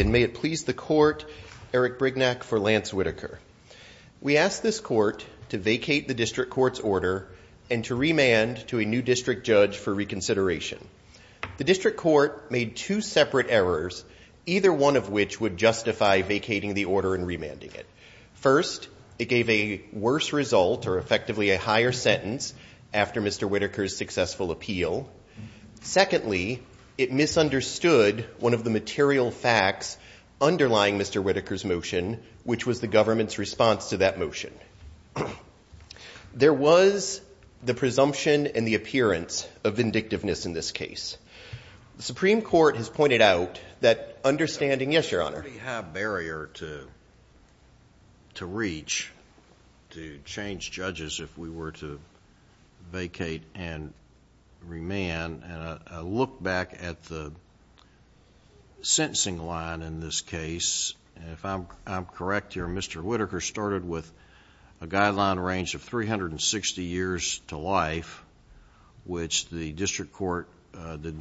and may it please the court, Eric Brignac for Lance Whitaker. We asked this court to vacate the district court's order and to remand to a new district judge for reconsideration. The district court made two separate errors, either one of which would justify vacating the order and remanding it. First, it gave a worse result or effectively a higher sentence after Mr. Whitaker's successful appeal. Secondly, it misunderstood one of the material facts underlying Mr. Whitaker's motion, which was the government's response to that motion. There was the presumption and the appearance of vindictiveness in this case. The Supreme Court has pointed out that understanding- yes, your honor. There's a pretty high barrier to reach to change judges if we were to vacate and remand. I look back at the sentencing line in this case, and if I'm correct here, Mr. Whitaker started with a guideline range of 360 years to life, which the district court did not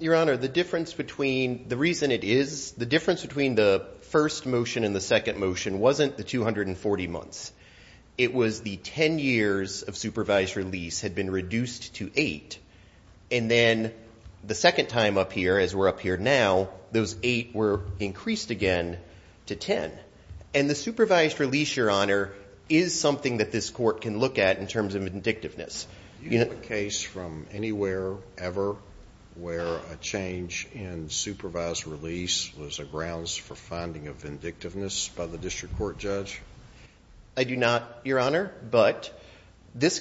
Your honor, the difference between- the reason it is- the difference between the first motion and the second motion wasn't the 240 months. It was the 10 years of supervised release had been reduced to 8, and then the second time up here, as we're up here now, those 8 were increased again to 10. And the supervised release, your honor, is something that this court can look at in terms of vindictiveness. Do you have a case from anywhere, ever, where a change in supervised release was a grounds for finding of vindictiveness by the district court judge? I do not, your honor, but this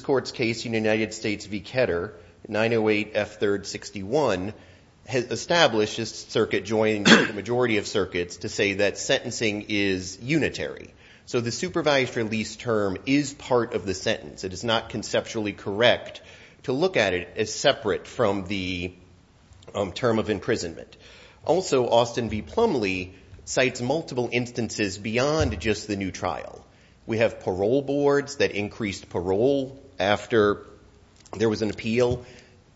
court's case in the United States v. Ketter, 908 F. 3rd, 61, has established this circuit joining the majority of circuits to say that sentencing is unitary. So the supervised release term is part of the sentence. It is not conceptually correct to look at it as separate from the term of imprisonment. Also Austin v. Plumlee cites multiple instances beyond just the new trial. We have parole boards that increased parole after there was an appeal,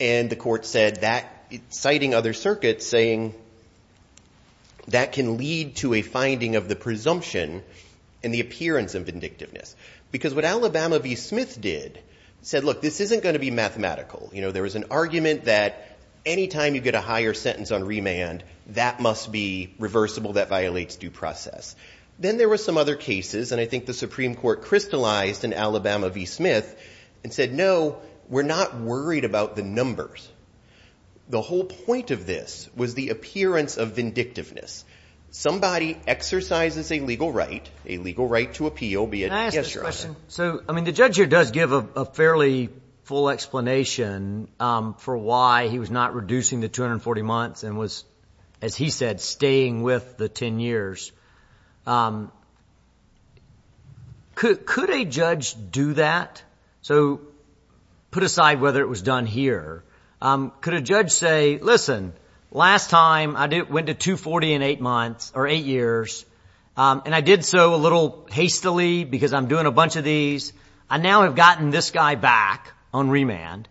and the court said that, citing other circuits, saying that can lead to a finding of the presumption and the appearance of vindictiveness. Because what Alabama v. Smith did said, look, this isn't going to be mathematical. There was an argument that any time you get a higher sentence on remand, that must be reversible, that violates due process. Then there were some other cases, and I think the Supreme Court crystallized in Alabama v. Smith and said, no, we're not worried about the numbers. The whole point of this was the appearance of vindictiveness. Somebody exercises a legal right, a legal right to appeal, be it a guest trial. Can I ask a question? The judge here does give a fairly full explanation for why he was not reducing the 240 months and was, as he said, staying with the 10 years. Could a judge do that? So put aside whether it was done here. Could a judge say, listen, last time I went to 240 in eight years, and I did so a little hastily because I'm doing a bunch of these. I now have gotten this guy back on remand.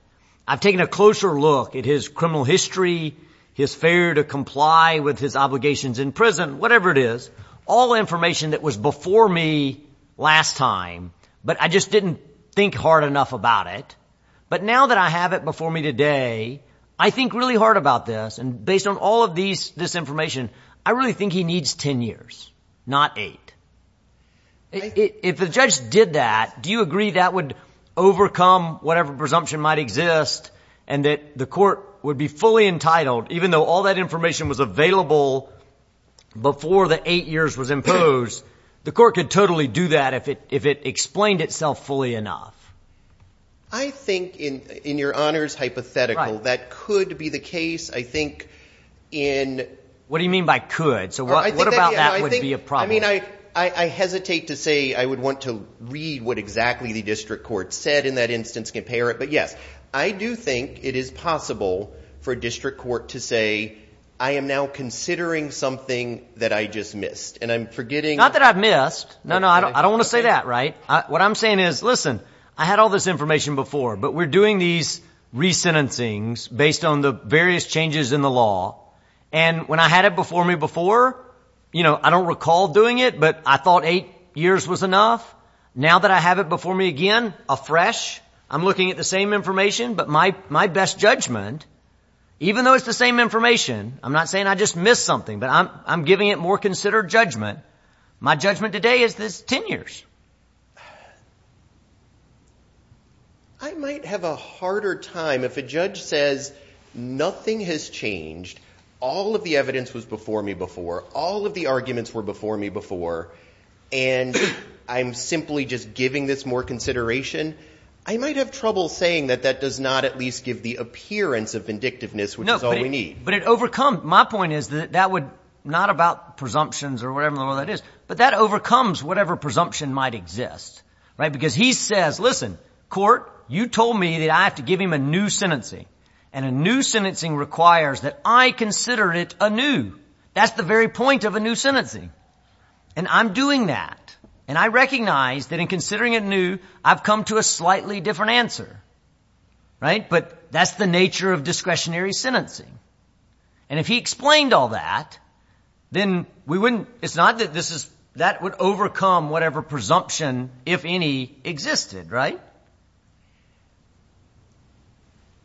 I've taken a closer look at his criminal history, his failure to comply with his obligations in prison, whatever it is, all information that was before me last time, but I just didn't think hard enough about it. But now that I have it before me today, I think really hard about this, and based on all of this information, I really think he needs 10 years, not eight. If the judge did that, do you agree that would overcome whatever presumption might exist and that the court would be fully entitled, even though all that information was available before the eight years was imposed, the court could totally do that if it explained itself fully enough? I think, in your honors hypothetical, that could be the case, I think, in... What do you mean by could? So what about that would be a problem? I hesitate to say I would want to read what exactly the district court said in that instance, compare it, but yes, I do think it is possible for a district court to say, I am now considering something that I just missed, and I'm forgetting... Not that I've missed. No, no, I don't want to say that, right? What I'm saying is, listen, I had all this information before, but we're doing these re-sentencings based on the various changes in the law, and when I had it before me before, I don't recall doing it, but I thought eight years was enough. Now that I have it before me again, afresh, I'm looking at the same information, but my best judgment, even though it's the same information, I'm not saying I just missed something, but I'm giving it more considered judgment. My judgment today is this 10 years. I might have a harder time if a judge says, nothing has changed, all of the evidence was before me before, all of the arguments were before me before, and I'm simply just giving this more consideration, I might have trouble saying that that does not at least give the appearance of vindictiveness, which is all we need. My point is that that would, not about presumptions or whatever the hell that is, but that overcomes whatever presumption might exist, right? Because he says, listen, court, you told me that I have to give him a new sentencing, and a new sentencing requires that I consider it anew. That's the very point of a new sentencing, and I'm doing that, and I recognize that in considering it anew, I've come to a slightly different answer, right? But that's the nature of discretionary sentencing. And if he explained all that, then we wouldn't, it's not that this is, that would overcome whatever presumption, if any, existed, right?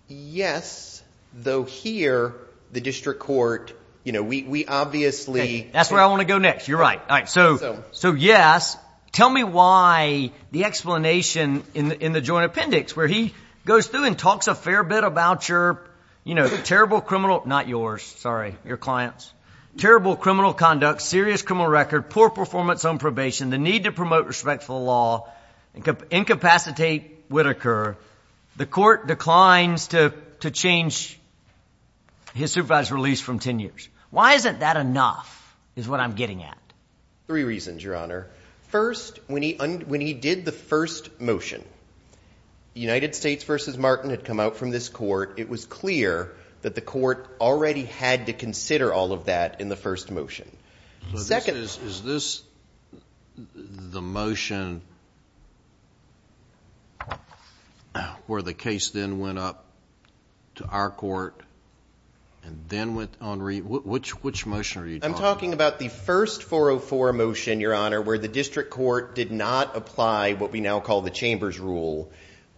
Yes, though here, the district court, you know, we obviously. That's where I want to go next. You're right. All right. So, so yes. Tell me why the explanation in the joint appendix, where he goes through and talks a fair bit about your, you know, terrible criminal, not yours, sorry, your client's, terrible criminal conduct, serious criminal record, poor performance on probation, the need to promote respect for the law, incapacitate Whitaker, the court declines to change his supervisor's release from 10 years. Why isn't that enough, is what I'm getting at? Three reasons, your honor. First, when he, when he did the first motion, United States versus Martin had come out from this court. It was clear that the court already had to consider all of that in the first motion. Second. Is this the motion where the case then went up to our court and then went on re, which, which motion are you talking about? I'm talking about the first 404 motion, your honor, where the district court did not apply what we now call the chamber's rule.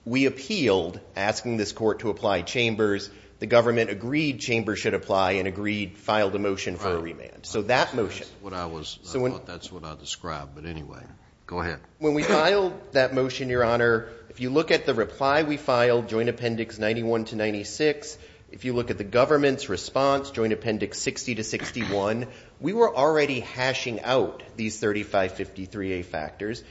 We appealed asking this court to apply chambers. The government agreed chamber should apply and agreed, filed a motion for a remand. So that motion, what I was, that's what I described, but anyway, go ahead. When we filed that motion, your honor, if you look at the reply, we filed joint appendix 91 to 96. If you look at the government's response, joint appendix 60 to 61, we were already hashing out these 3553A factors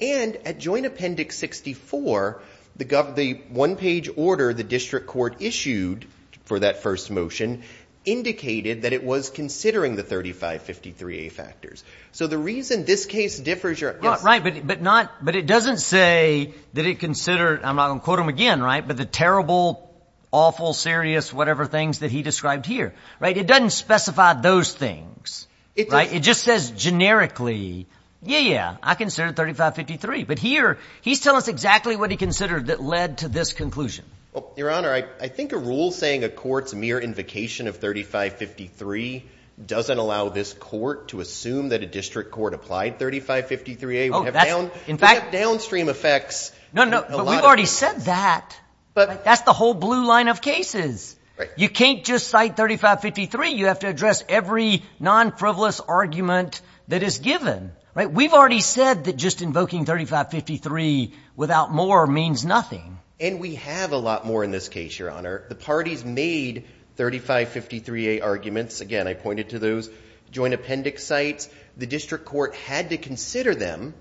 and at joint appendix 64, the gov, the one page order, the district court issued for that first motion indicated that it was considering the 3553A factors. So the reason this case differs your, right, but, but not, but it doesn't say that it considered, I'm not going to quote him again, right, but the terrible, awful, serious, whatever things that he described here, right? It doesn't specify those things, right? It just says generically. Yeah. Yeah. I consider it 3553, but here he's telling us exactly what he considered that led to this conclusion. Well, your honor, I, I think a rule saying a court's mere invocation of 3553 doesn't allow this court to assume that a district court applied 3553A would have downstream effects. No, no. We've already said that, but that's the whole blue line of cases, right? You can't just cite 3553. You have to address every non-frivolous argument that is given, right? We've already said that just invoking 3553 without more means nothing. And we have a lot more in this case, your honor. The parties made 3553A arguments again, I pointed to those joint appendix sites. The district court had to consider them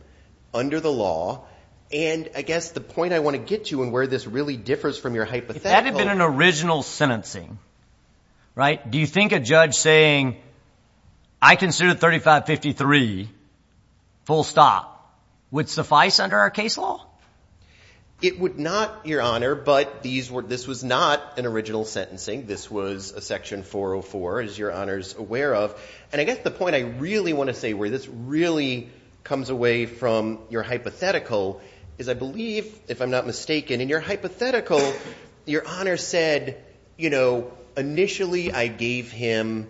under the law. And I guess the point I want to get to and where this really differs from your hypothetical- If that had been an original sentencing, right? Do you think a judge saying I consider 3553 full stop would suffice under our case law? It would not, your honor, but these were, this was not an original sentencing. This was a section 404 as your honors aware of. And I guess the point I really want to say where this really comes away from your hypothetical is I believe, if I'm not mistaken, in your hypothetical, your honor said, you know, initially I gave him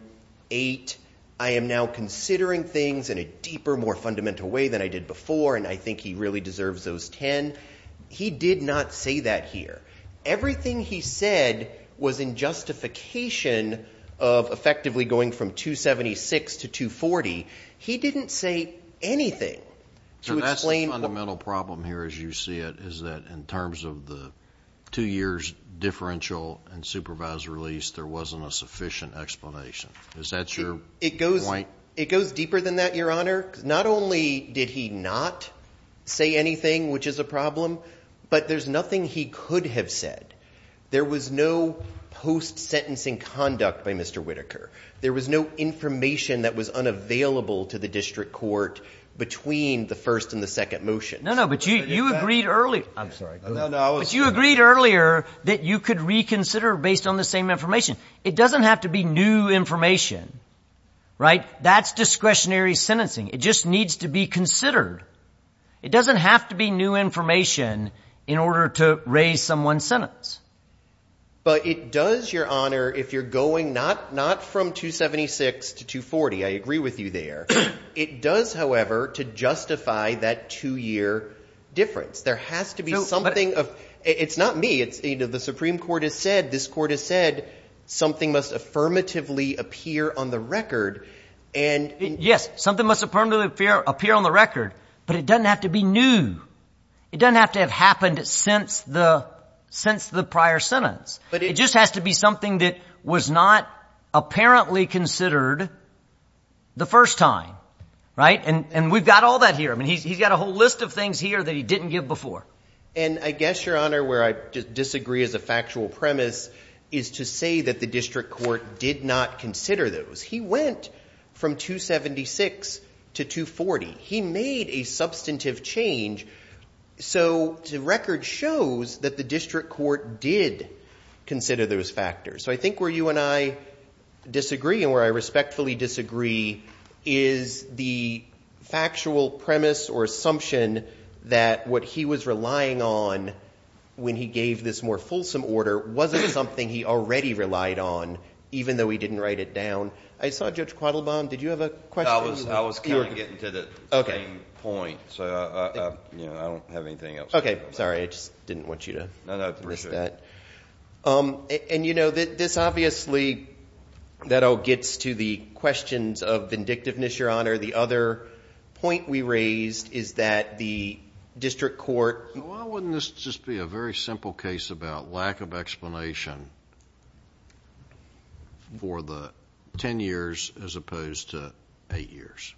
eight. I am now considering things in a deeper, more fundamental way than I did before. And I think he really deserves those 10. He did not say that here. Everything he said was in justification of effectively going from 276 to 240. He didn't say anything to explain- So that's the fundamental problem here as you see it, is that in terms of the two years differential and supervised release, there wasn't a sufficient explanation. Is that your point? It goes, it goes deeper than that, your honor. Not only did he not say anything, which is a problem, but there's nothing he could have said. There was no post sentencing conduct by Mr. Whitaker. There was no information that was unavailable to the district court between the first and the second motion. No, no, but you, you agreed early, I'm sorry, but you agreed earlier that you could reconsider based on the same information. It doesn't have to be new information, right? That's discretionary sentencing. It just needs to be considered. It doesn't have to be new information in order to raise someone's sentence. But it does, your honor, if you're going not, not from 276 to 240, I agree with you there. It does, however, to justify that two year difference, there has to be something of, it's not me, it's either the Supreme Court has said, this court has said something must affirmatively appear on the record and yes, something must affirmatively appear, appear on the record, but it doesn't have to be new. It doesn't have to have happened since the, since the prior sentence, but it just has to be something that was not apparently considered the first time. Right. And we've got all that here. I mean, he's, he's got a whole list of things here that he didn't give before. And I guess your honor, where I disagree as a factual premise is to say that the district court did not consider those. He went from 276 to 240. He made a substantive change. So the record shows that the district court did consider those factors. So I think where you and I disagree and where I respectfully disagree is the factual premise or assumption that what he was relying on when he gave this more fulsome order wasn't something he already relied on, even though he didn't write it down. I saw Judge Quattlebaum. Did you have a question? I was, I was kind of getting to the same point, so I, you know, I don't have anything else. Okay. Sorry. I just didn't want you to miss that. No, no. I appreciate it. And you know, this obviously, that all gets to the questions of vindictiveness, your honor. The other point we raised is that the district court. Why wouldn't this just be a very simple case about lack of explanation for the 10 years as opposed to eight years?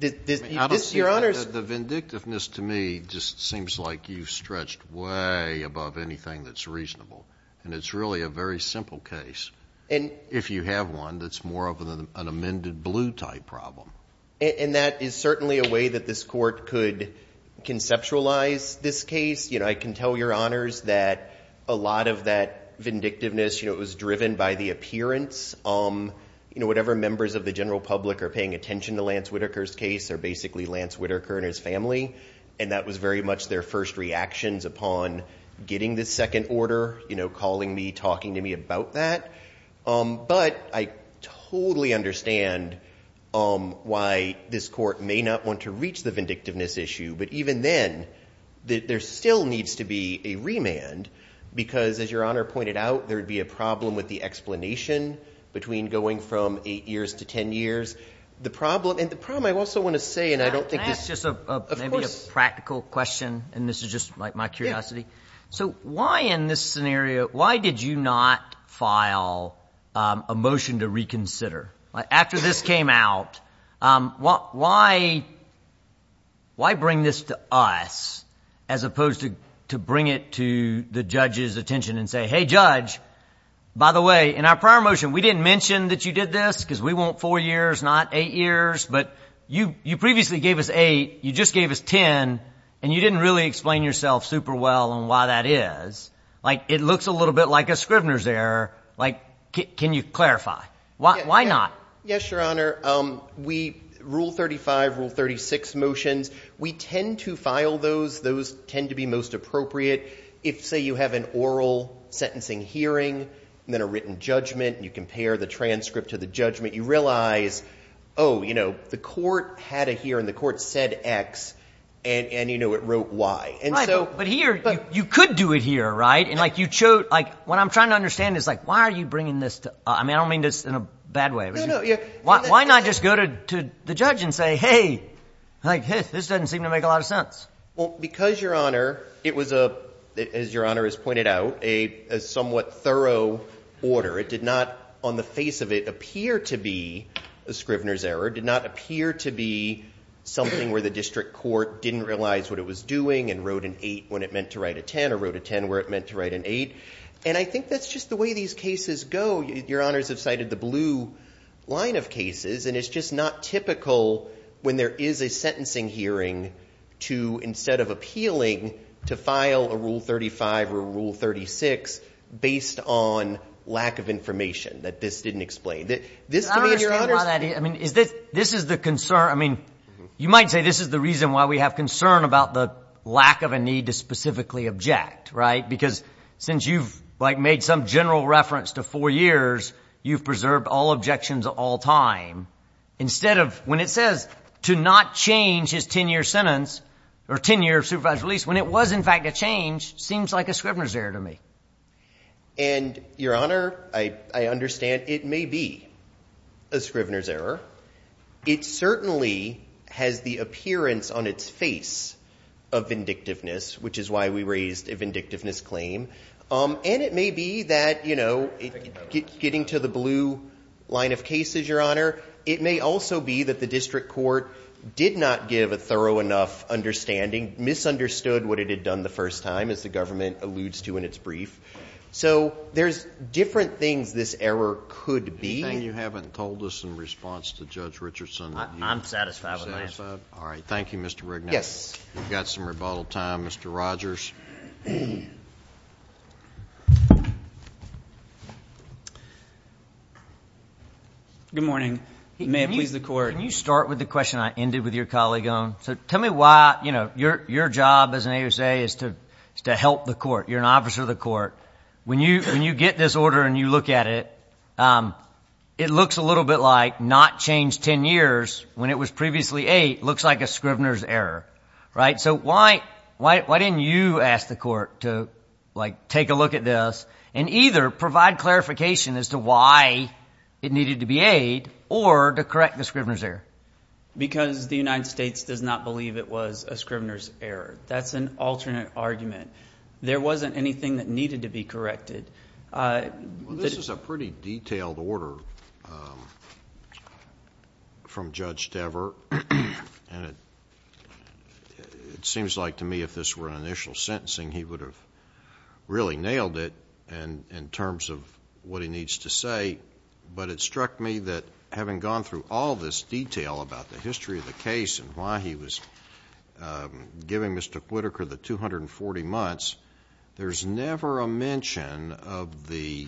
This, your honors. The vindictiveness to me just seems like you've stretched way above anything that's reasonable. And it's really a very simple case. And if you have one, that's more of an amended blue type problem. And that is certainly a way that this court could conceptualize this case. You know, I can tell your honors that a lot of that vindictiveness, you know, it was driven by the appearance. You know, whatever members of the general public are paying attention to Lance Whitaker's case are basically Lance Whitaker and his family. And that was very much their first reactions upon getting this second order, you know, calling me, talking to me about that. But I totally understand why this court may not want to reach the vindictiveness issue. But even then, there still needs to be a remand. Because as your honor pointed out, there would be a problem with the explanation between going from eight years to 10 years. The problem, and the problem I also want to say, and I don't think this is just a practical question. And this is just my curiosity. So why in this scenario, why did you not file a motion to reconsider? After this came out, why bring this to us as opposed to bring it to the judge's attention and say, hey judge, by the way, in our prior motion, we didn't mention that you did this because we want four years, not eight years. But you previously gave us eight, you just gave us 10, and you didn't really explain yourself super well on why that is. Like it looks a little bit like a Scrivener's error. Like can you clarify? Why not? Yes, your honor. We, Rule 35, Rule 36 motions, we tend to file those. Those tend to be most appropriate. If say you have an oral sentencing hearing, then a written judgment, you compare the transcript to the judgment, you realize, oh, you know, the court had a hearing, the court said X, and you know, it wrote Y. But here, you could do it here, right? And like you showed, like what I'm trying to understand is like, why are you bringing this to, I mean, I don't mean this in a bad way. Why not just go to the judge and say, hey, like this doesn't seem to make a lot of sense? Because your honor, it was a, as your honor has pointed out, a somewhat thorough order. It did not, on the face of it, appear to be a Scrivener's error, did not appear to be something where the district court didn't realize what it was doing and wrote an 8 when it meant to write a 10 or wrote a 10 where it meant to write an 8. And I think that's just the way these cases go. Your honors have cited the blue line of cases, and it's just not typical when there is a sentencing hearing to, instead of appealing, to file a Rule 35 or a Rule 36 based on lack of information that this didn't explain. I don't understand why that is. I mean, is this, this is the concern. I mean, you might say this is the reason why we have concern about the lack of a need to specifically object, right? Because since you've like made some general reference to four years, you've preserved all objections at all time. Instead of, when it says to not change his 10 year sentence or 10 year supervised release, when it was in fact a change, seems like a Scrivener's error to me. And your honor, I, I understand it may be a Scrivener's error. It certainly has the appearance on its face of vindictiveness, which is why we raised a vindictiveness claim. And it may be that, you know, getting to the blue line of cases, your honor, it may also be that the district court did not give a thorough enough understanding, misunderstood what it had done the first time, as the government alludes to in its brief. So there's different things this error could be. And you haven't told us in response to Judge Richardson, I'm satisfied with my answer. All right. Thank you, Mr. Rignell. Yes. We've got some rebuttal time. Mr. Rogers. Good morning. May it please the court. Can you start with the question I ended with your colleague on? So tell me why, you know, your, your job as an AUSA is to, is to help the court. You're an officer of the court. When you, when you get this order and you look at it, it looks a little bit like not changed 10 years when it was previously eight, looks like a Scrivener's error, right? So why, why, why didn't you ask the court to like take a look at this and either provide clarification as to why it needed to be aid or to correct the Scrivener's error? Because the United States does not believe it was a Scrivener's error. That's an alternate argument. There wasn't anything that needed to be corrected. Well, this is a pretty detailed order from Judge Dever and it seems like to me if this were an initial sentencing, he would have really nailed it and in terms of what he needs to say, but it struck me that having gone through all this detail about the history of the case and why he was giving Mr. Whitaker the 240 months, there's never a mention of the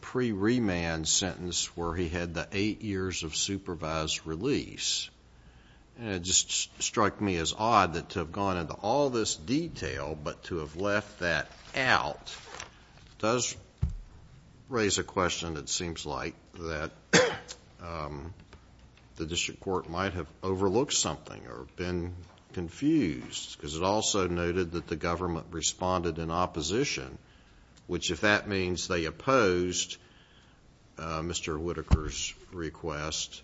pre-remand sentence where he had the eight years of supervised release and it just struck me as odd that to have gone into all this detail but to have left that out does raise a question that seems like that the district court might have overlooked something or been confused because it also noted that the government responded in opposition, which if that means they opposed Mr. Whitaker's request,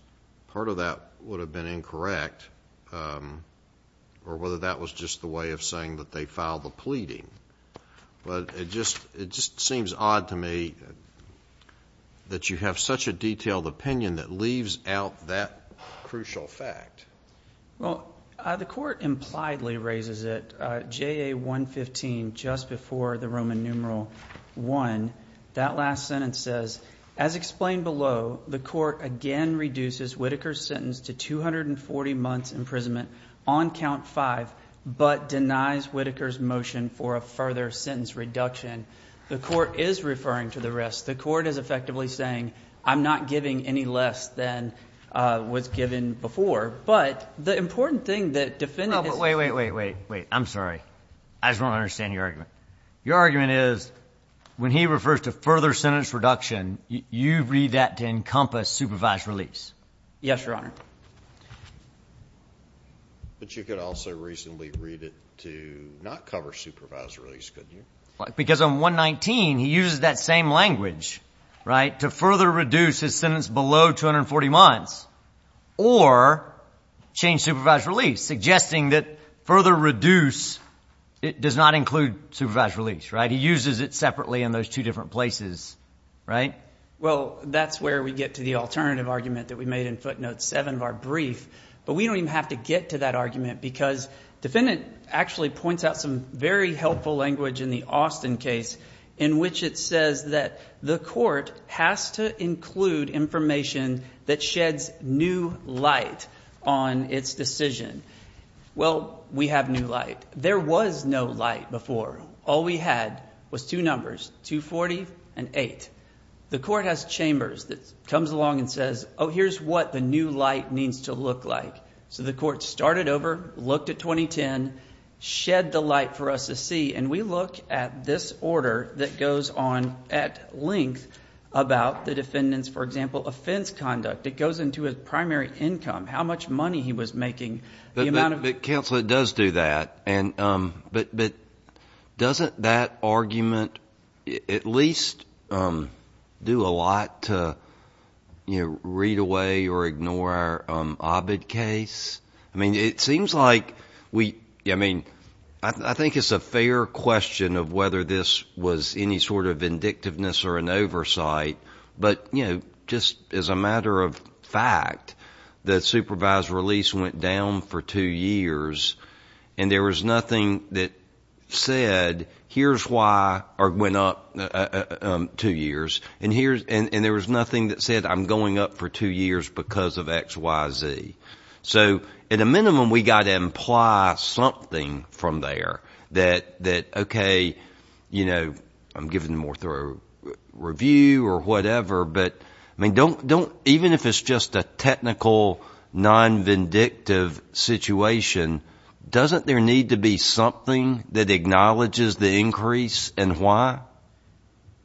part of that would have been incorrect or whether that was just the way of saying that they filed the pleading, but it just seems odd to me that you have such a detailed opinion that leaves out that crucial fact. Well, the court impliedly raises it, JA 115 just before the Roman numeral I, that last sentence says, as explained below, the court again reduces Whitaker's sentence to 240 months imprisonment on count five, but denies Whitaker's motion for a further sentence reduction. The court is referring to the rest. The court is effectively saying I'm not giving any less than was given before, but the important thing that defendant is... Wait, wait, wait, wait, wait, I'm sorry. I just don't understand your argument. Your argument is when he refers to further sentence reduction, you read that to encompass supervised release. Yes, Your Honor. But you could also reasonably read it to not cover supervised release, couldn't you? Because on 119, he uses that same language to further reduce his sentence below 240 months or change supervised release, suggesting that further reduce does not include supervised release, right? He uses it separately in those two different places, right? Well, that's where we get to the alternative argument that we made in footnote seven of our brief, but we don't even have to get to that argument because defendant actually points out some very helpful language in the Austin case in which it says that the court has to include information that sheds new light on its decision. Well, we have new light. There was no light before. All we had was two numbers, 240 and eight. The court has chambers that comes along and says, oh, here's what the new light needs to look like. So the court started over, looked at 2010, shed the light for us to see, and we look at this order that goes on at length about the defendant's, for example, offense conduct. It goes into his primary income, how much money he was making, the amount of... But counsel, it does do that, but doesn't that argument at least do a lot to read away or ignore our Ovid case? I mean, it seems like we... I mean, I think it's a fair question of whether this was any sort of vindictiveness or an oversight, but just as a matter of fact, the supervised release went down for two years, and there was nothing that said, here's why... or went up two years because of X, Y, Z. So at a minimum, we got to imply something from there that, okay, I'm giving a more thorough review or whatever, but even if it's just a technical non-vindictive situation, doesn't there need to be something that acknowledges the increase and why?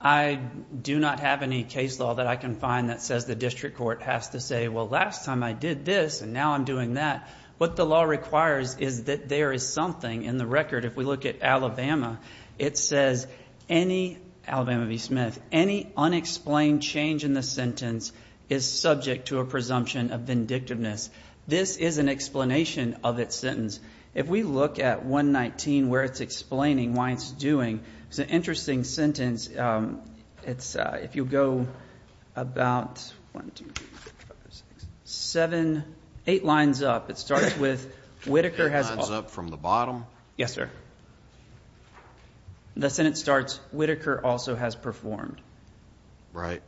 I do not have any case law that I can find that says the district court has to say, well, last time I did this, and now I'm doing that. What the law requires is that there is something in the record. If we look at Alabama, it says any... Alabama v. Smith... any unexplained change in the sentence is subject to a presumption of vindictiveness. This is an explanation of its sentence. If we look at 119 where it's explaining why it's doing, it's an interesting sentence. If you go about... eight lines up. It starts with, Whittaker has... Eight lines up from the bottom? Yes, sir. The sentence starts, Whittaker also has performed. Right.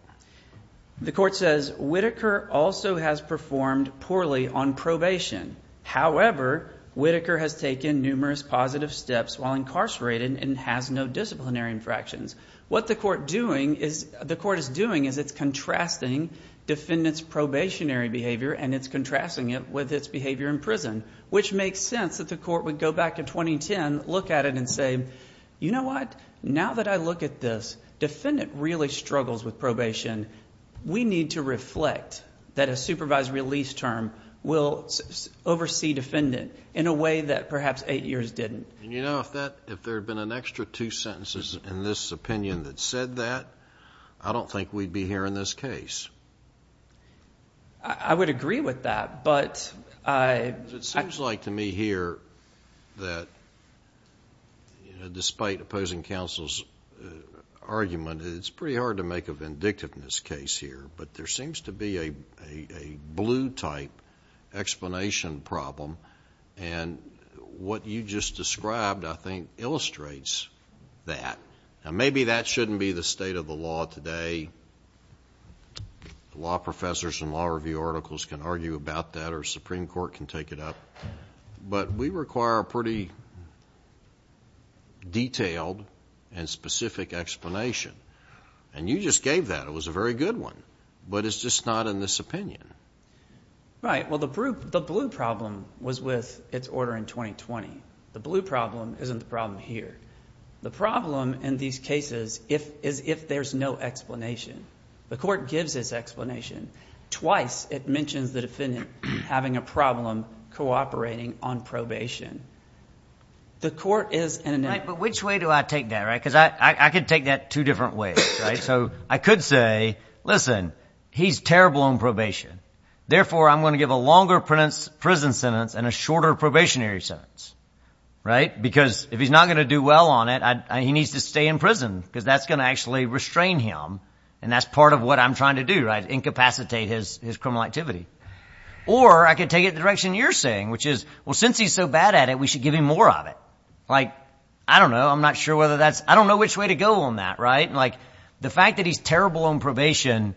The court says, Whittaker also has performed poorly on probation. However, Whittaker has taken numerous positive steps while incarcerated and has no disciplinary infractions. What the court is doing is it's contrasting defendant's probationary behavior and it's contrasting it with its behavior in prison, which makes sense that the court would go back to 2010, look at it and say, you know what? Now that I look at this, defendant really struggles with probation. We need to reflect that a supervised release term will oversee defendant in a way that perhaps eight years didn't. If there had been an extra two sentences in this opinion that said that, I don't think we'd be here in this case. I would agree with that, but I... It seems like to me here that despite opposing counsel's argument, it's pretty hard to make a vindictiveness case here, but there seems to be a blue type explanation problem and what you just described, I think, illustrates that. Maybe that shouldn't be the state of the law today. Law professors and law review articles can argue about that or Supreme Court can take it up, but we require a pretty detailed and specific explanation. You just gave that. It was a very good one, but it's just not in this opinion. Right. Well, the blue problem was with its order in 2020. The blue problem isn't the problem here. The problem in these cases is if there's no explanation. The court gives this explanation twice. It mentions the defendant having a problem cooperating on probation. The court is... Right, but which way do I take that, right? I could take that two different ways, right? So I could say, listen, he's terrible on probation. Therefore, I'm going to give a longer prison sentence and a shorter probationary sentence, right, because if he's not going to do well on it, he needs to stay in prison because that's going to actually restrain him and that's part of what I'm trying to do, right, incapacitate his criminal activity. Or I could take it in the direction you're saying, which is, well, since he's so bad at it, we should give him more of it. I don't know. I'm not sure whether that's... I don't know which way to go on that, right? Like, the fact that he's terrible on probation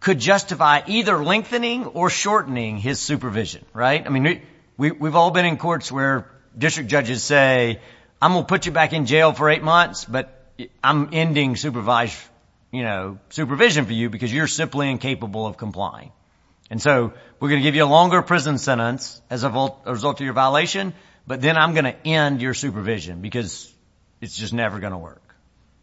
could justify either lengthening or shortening his supervision, right? I mean, we've all been in courts where district judges say, I'm going to put you back in jail for eight months, but I'm ending supervision for you because you're simply incapable of complying. And so we're going to give you a longer prison sentence as a result of your violation, but then I'm going to end your supervision because it's just never going to work.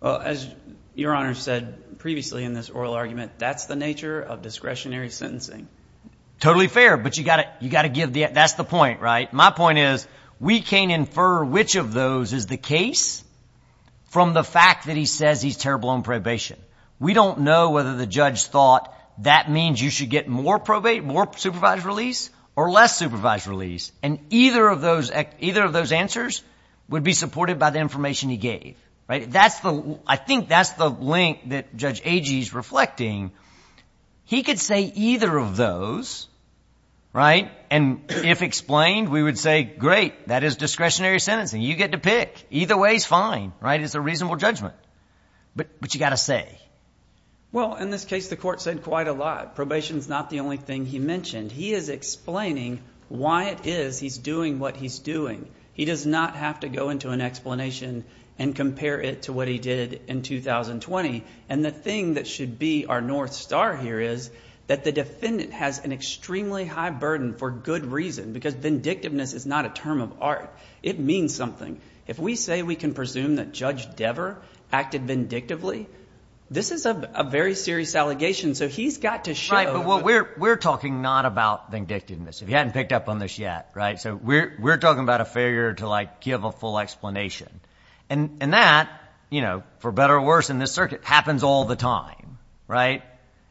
Well, as Your Honor said previously in this oral argument, that's the nature of discretionary sentencing. Totally fair, but you've got to give the... that's the point, right? My point is, we can't infer which of those is the case from the fact that he says he's terrible on probation. We don't know whether the judge thought that means you should get more supervised release or less supervised release. And either of those... either of those answers would be supported by the information he gave, right? That's the... I think that's the link that Judge Agee is reflecting. He could say either of those, right? And if explained, we would say, great, that is discretionary sentencing. You get to pick. Either way is fine, right? It's a reasonable judgment. But you've got to say. Well, in this case, the court said quite a lot. Probation is not the only thing he mentioned. He is explaining why it is he's doing what he's doing. He does not have to go into an explanation and compare it to what he did in 2020. And the thing that should be our north star here is that the defendant has an extremely high burden for good reason, because vindictiveness is not a term of art. It means something. If we say we can presume that Judge Dever acted vindictively, this is a very serious allegation. So he's got to show... If he hadn't picked up on this yet, right? So we're talking about a failure to give a full explanation. And that, for better or worse in this circuit, happens all the time, right?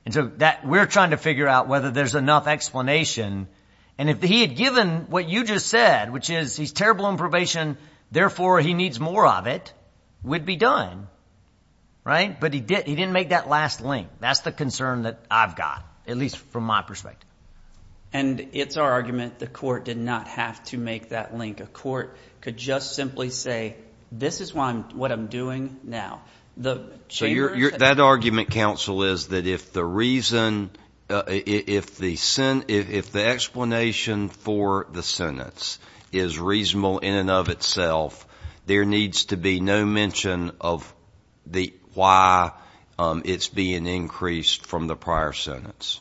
And so we're trying to figure out whether there's enough explanation. And if he had given what you just said, which is he's terrible in probation, therefore he needs more of it, would be done, right? But he didn't make that last link. That's the concern that I've got, at least from my perspective. And it's our argument the court did not have to make that link. A court could just simply say, this is what I'm doing now. The chamber... So that argument, counsel, is that if the reason... if the explanation for the sentence is reasonable in and of itself, there needs to be no mention of why it's being increased from the prior sentence.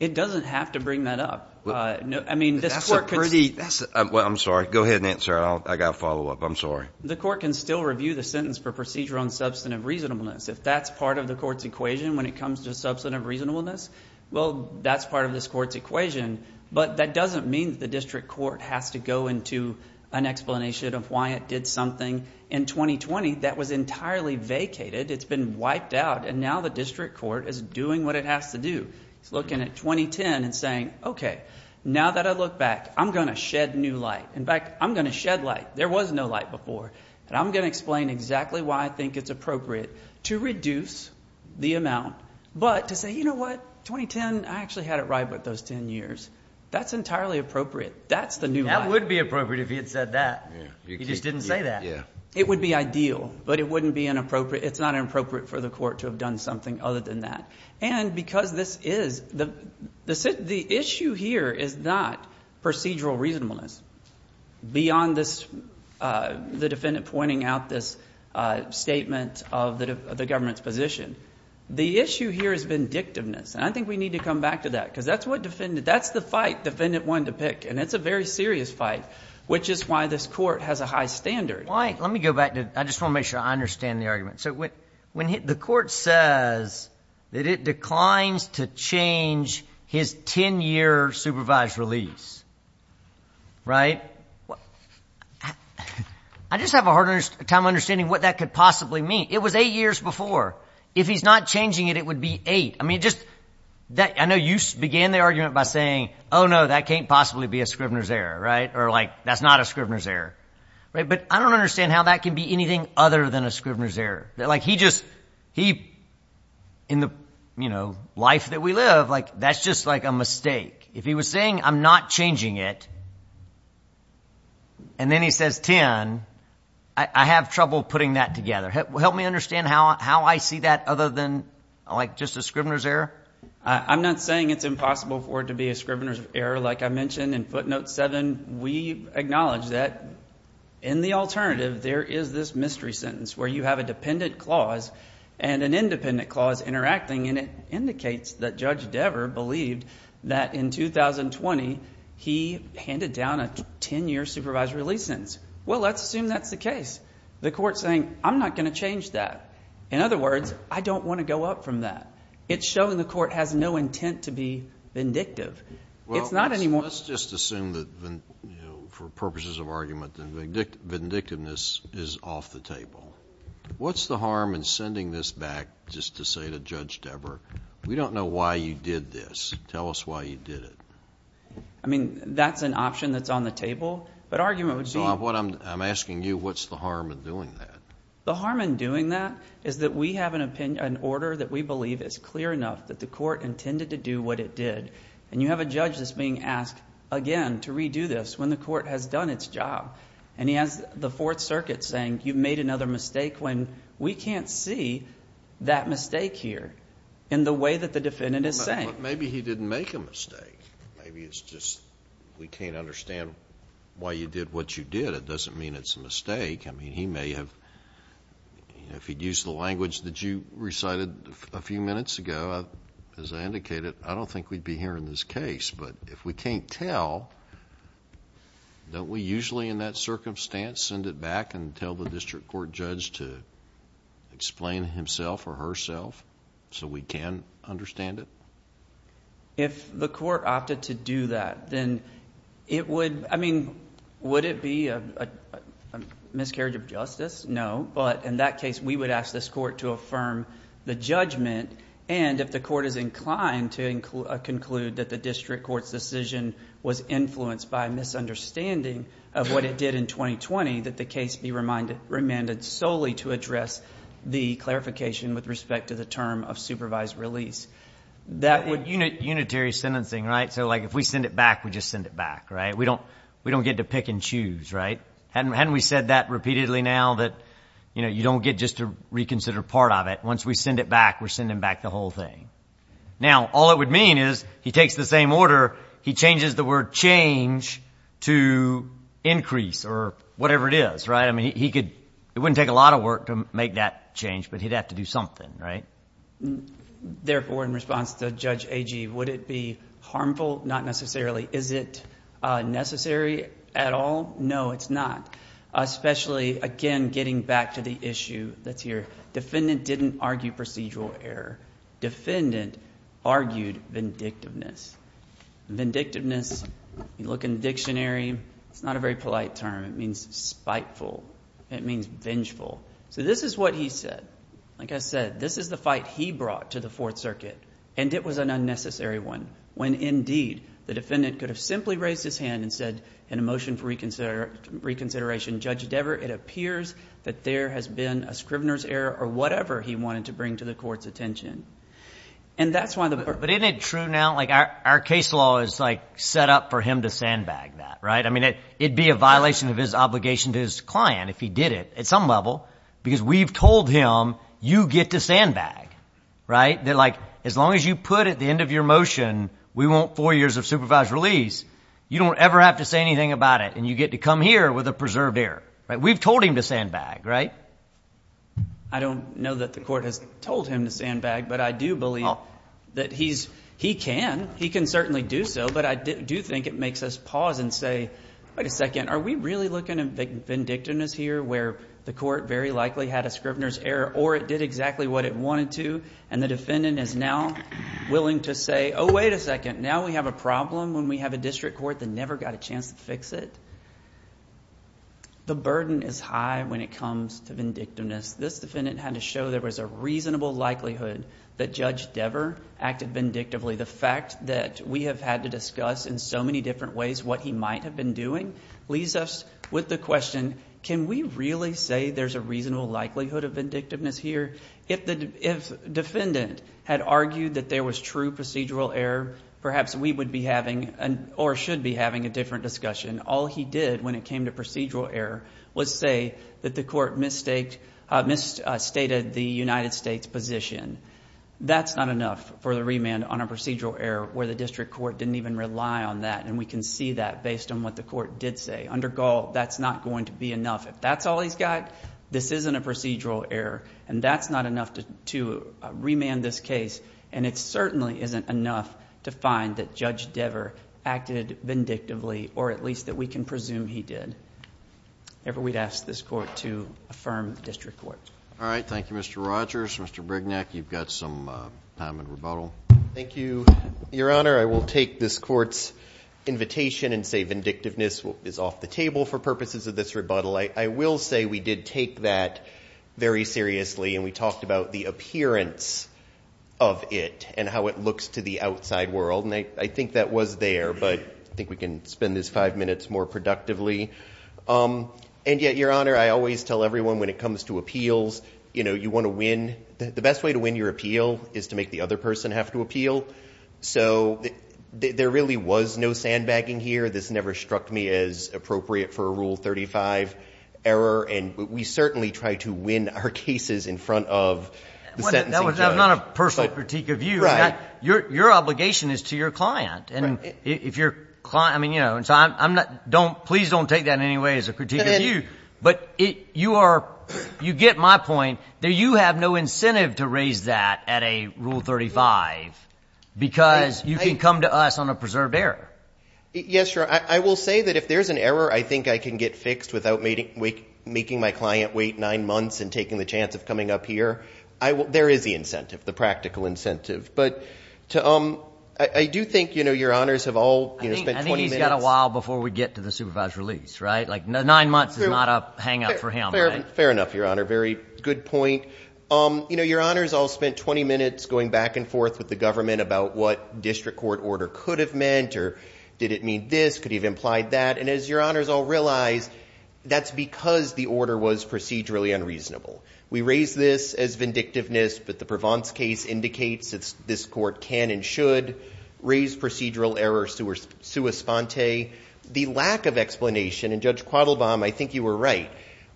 It doesn't have to bring that up. I mean, this court... That's a pretty... Well, I'm sorry. Go ahead and answer. I got a follow-up. I'm sorry. The court can still review the sentence for procedure on substantive reasonableness. If that's part of the court's equation when it comes to substantive reasonableness, well, that's part of this court's equation. But that doesn't mean the district court has to go into an explanation of why it did something in 2020 that was entirely vacated. It's been wiped out. And now the district court is doing what it has to do. It's looking at 2010 and saying, okay, now that I look back, I'm going to shed new light. In fact, I'm going to shed light. There was no light before. And I'm going to explain exactly why I think it's appropriate to reduce the amount. But to say, you know what? 2010, I actually had it right about those ten years. That's entirely appropriate. That's the new light. That would be appropriate if he had said that. He just didn't say that. Yeah. It would be ideal. But it wouldn't be inappropriate. It's not inappropriate for the court to have done something other than that. And because this is, the issue here is not procedural reasonableness. Beyond this, the defendant pointing out this statement of the government's position. The issue here has been dictiveness. And I think we need to come back to that. Because that's what defendant, that's the fight defendant wanted to pick. And it's a very serious fight. Which is why this court has a high standard. Why, let me go back to, I just want to make sure I understand the argument. When the court says that it declines to change his ten-year supervised release, right? I just have a hard time understanding what that could possibly mean. It was eight years before. If he's not changing it, it would be eight. I mean, just, I know you began the argument by saying, oh no, that can't possibly be a Scrivener's error, right? Or like, that's not a Scrivener's error. He just, he, in the life that we live, that's just like a mistake. If he was saying, I'm not changing it, and then he says ten, I have trouble putting that together. Help me understand how I see that other than just a Scrivener's error? I'm not saying it's impossible for it to be a Scrivener's error. Like I mentioned in footnote seven, we acknowledge that in the alternative, there is this mystery sentence where you have a dependent clause and an independent clause interacting, and it indicates that Judge Dever believed that in 2020, he handed down a ten-year supervised release sentence. Well, let's assume that's the case. The court's saying, I'm not going to change that. In other words, I don't want to go up from that. It's showing the court has no intent to be vindictive. It's not anymore. Let's just assume that for purposes of argument, vindictiveness is off the table. What's the harm in sending this back just to say to Judge Dever, we don't know why you did this. Tell us why you did it. I mean, that's an option that's on the table, but argument would be... So I'm asking you, what's the harm in doing that? The harm in doing that is that we have an opinion, an order that we believe is clear enough that the court intended to do what it did, and you have a judge that's being asked again to redo this when the court has done its job. And he has the Fourth Circuit saying, you've made another mistake, when we can't see that mistake here in the way that the defendant is saying. Maybe he didn't make a mistake. Maybe it's just we can't understand why you did what you did. It doesn't mean it's a mistake. I mean, he may have... if he'd used the language that you recited a few minutes ago, as I indicated, I don't think we'd be hearing this case. But if we can't tell, don't we usually in that circumstance send it back and tell the district court judge to explain himself or herself so we can understand it? If the court opted to do that, then it would... I mean, would it be a miscarriage of justice? No, but in that case, we would ask this court to affirm the judgment, and if the court is inclined to conclude that the district court's decision was influenced by a misunderstanding of what it did in 2020, that the case be remanded solely to address the clarification with respect to the term of supervised release. That would... Unitary sentencing, right? So, like, if we send it back, we just send it back, right? We don't get to pick and choose, right? Hadn't we said that repeatedly now that you don't get just to reconsider part of it? Once we send it back, we're sending back the whole thing. Now, all it would mean is he takes the same order. He changes the word change to increase or whatever it is, right? I mean, he could... it wouldn't take a lot of work to make that change, but he'd have to do something, right? Therefore, in response to Judge Agee, would it be harmful? Not necessarily. Is it necessary at all? No, it's not, especially, again, getting back to the issue that's here. Defendant didn't argue procedural error. Defendant argued vindictiveness. Vindictiveness, you look in the dictionary, it's not a very polite term. It means spiteful. It means vengeful. So, this is what he said. Like I said, this is the fight he brought to the Fourth Circuit, and it was an unnecessary one when, indeed, the defendant could have simply raised his hand and said, in a motion for reconsideration, Judge Devere, it appears that there has been a scrivener's error or whatever he wanted to bring to the court's attention. And that's why the... But isn't it true now, like our case law is like set up for him to sandbag that, right? I mean, it'd be a violation of his obligation to his client if he did it, at some level, because we've told him, you get to sandbag, right? That like, as long as you put at the end of your motion, we want four years of supervised release, you don't ever have to say anything about it, and you get to come here with a preserved error, right? We've told him to sandbag, right? I don't know that the court has told him to sandbag, but I do believe that he can. He can certainly do so, but I do think it makes us pause and say, wait a second, are we really looking at vindictiveness here, where the court very likely had a scrivener's error, or it did exactly what it wanted to, and the defendant is now willing to say, oh, wait a second, now we have a problem when we have a district court that never got a chance to fix it? The burden is high when it comes to vindictiveness. This defendant had to show there was a reasonable likelihood that Judge Dever acted vindictively. The fact that we have had to discuss in so many different ways what he might have been doing leaves us with the question, can we really say there's a reasonable likelihood of vindictiveness here? If defendant had argued that there was true procedural error, perhaps we would be having, or should be having, a different discussion. All he did when it came to procedural error was say that the court misstated the United States position. That's not enough for the remand on a procedural error where the district court didn't even rely on that, and we can see that based on what the court did say. Under Gall, that's not going to be enough. If that's all he's got, this isn't a procedural error, and that's not enough to remand this case, and it certainly isn't enough to find that Judge Dever acted vindictively, or at least that we can presume he did, ever we'd ask this court to affirm the district court. All right. Thank you, Mr. Rogers. Mr. Brignac, you've got some time in rebuttal. Thank you, Your Honor. I will take this court's invitation and say vindictiveness is off the table for purposes of this rebuttal. I will say we did take that very seriously, and we talked about the appearance of it and how it looks to the outside world, and I think that was there, but I think we can spend this five minutes more productively, and yet, Your Honor, I always tell everyone when it comes to appeals, you want to win. The best way to win your appeal is to make the other person have to appeal, so there really was no sandbagging here. This never struck me as appropriate for a Rule 35 error, and we certainly tried to win our cases in front of the sentencing judge. That was not a personal critique of you. Right. Your obligation is to your client. Please don't take that in any way as a critique of you, but you get my point that you have no incentive to raise that at a Rule 35 because you can come to us on a preserved error. Yes, Your Honor. I will say that if there's an error I think I can get fixed without making my client wait nine months and taking the chance of coming up here, there is the incentive, the practical incentive, but I do think Your Honors have all spent 20 minutes— I think he's got a while before we get to the supervised release, right? Like nine months is not a hangup for him, right? Fair enough, Your Honor. Very good point. Your Honors all spent 20 minutes going back and forth with the government about what district court order could have meant, or did it mean this? Could he have implied that? And as Your Honors all realize, that's because the order was procedurally unreasonable. We raise this as vindictiveness, but the Provence case indicates that this court can and should raise procedural error sua sponte. The lack of explanation, and Judge Quattlebaum, I think you were right,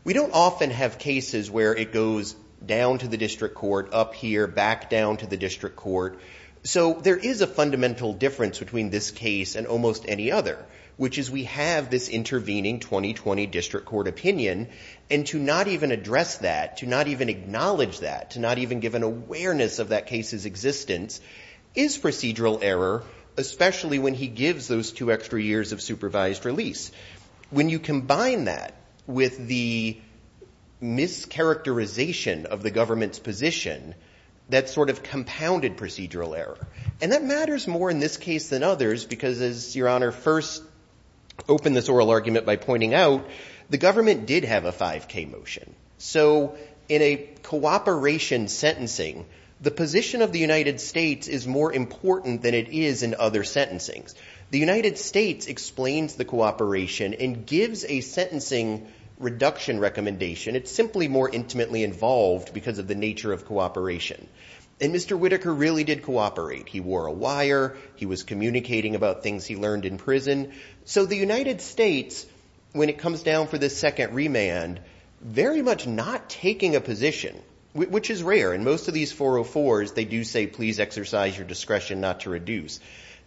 we don't often have cases where it goes down to the district court, up here, back down to the district court. So there is a fundamental difference between this case and almost any other, which is we have this intervening 2020 district court opinion, and to not even address that, to not even acknowledge that, to not even give an awareness of that case's existence, is procedural error, especially when he gives those two extra years of supervised release. When you combine that with the mischaracterization of the government's position, that's sort of compounded procedural error. And that matters more in this case than others, because as Your Honor first opened this oral argument by pointing out, the government did have a 5K motion. So in a cooperation sentencing, the position of the United States is more important than it is in other sentencings. The United States explains the cooperation and gives a sentencing reduction recommendation. It's simply more intimately involved because of the nature of cooperation. And Mr. Whitaker really did cooperate. He wore a wire. He was communicating about things he learned in prison. So the United States, when it comes down for this second remand, very much not taking a position, which is rare. In most of these 404s, they do say, please exercise your discretion not to reduce.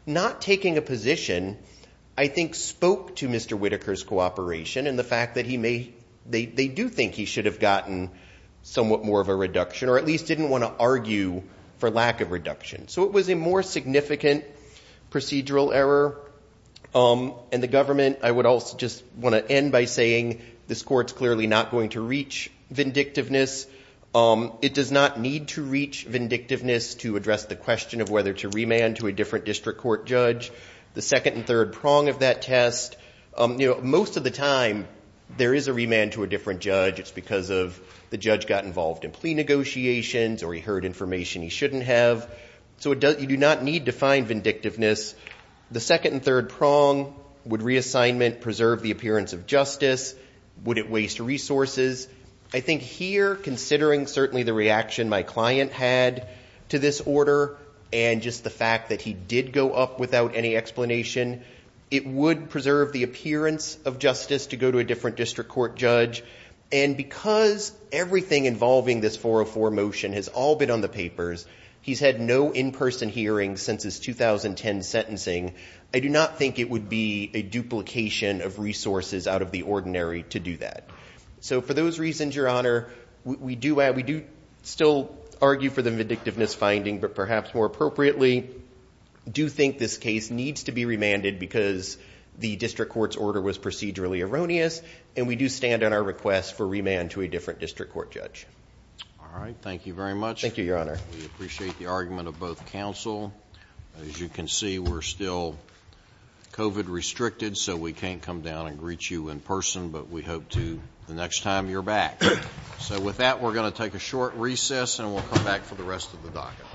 Not taking a position, I think, spoke to Mr. Whitaker's cooperation and the fact that he may ‑‑ they do think he should have gotten somewhat more of a reduction or at least didn't want to argue for lack of reduction. So it was a more significant procedural error. And the government, I would also just want to end by saying, this court's clearly not going to reach vindictiveness. It does not need to reach vindictiveness to address the question of whether to remand to a different district court judge. The second and third prong of that test, you know, most of the time, there is a remand to a different judge. It's because of the judge got involved in plea negotiations or he heard information he shouldn't have. So you do not need to find vindictiveness. The second and third prong, would reassignment preserve the appearance of justice? Would it waste resources? I think here, considering certainly the reaction my client had to this order and just the fact that he did go up without any explanation, it would preserve the appearance of justice to go to a different district court judge. And because everything involving this 404 motion has all been on the papers, he's had no in-person hearings since his 2010 sentencing. I do not think it would be a duplication of resources out of the ordinary to do that. So for those reasons, Your Honor, we do still argue for the vindictiveness finding, but perhaps more appropriately, do think this case needs to be remanded because the district court's order was procedurally erroneous and we do stand on our request for remand to a different district court judge. All right. Thank you very much. Thank you, Your Honor. We appreciate the argument of both counsel. As you can see, we're still COVID restricted, so we can't come down and greet you in person, but we hope to the next time you're back. So with that, we're going to take a short recess and we'll come back for the rest of the docket.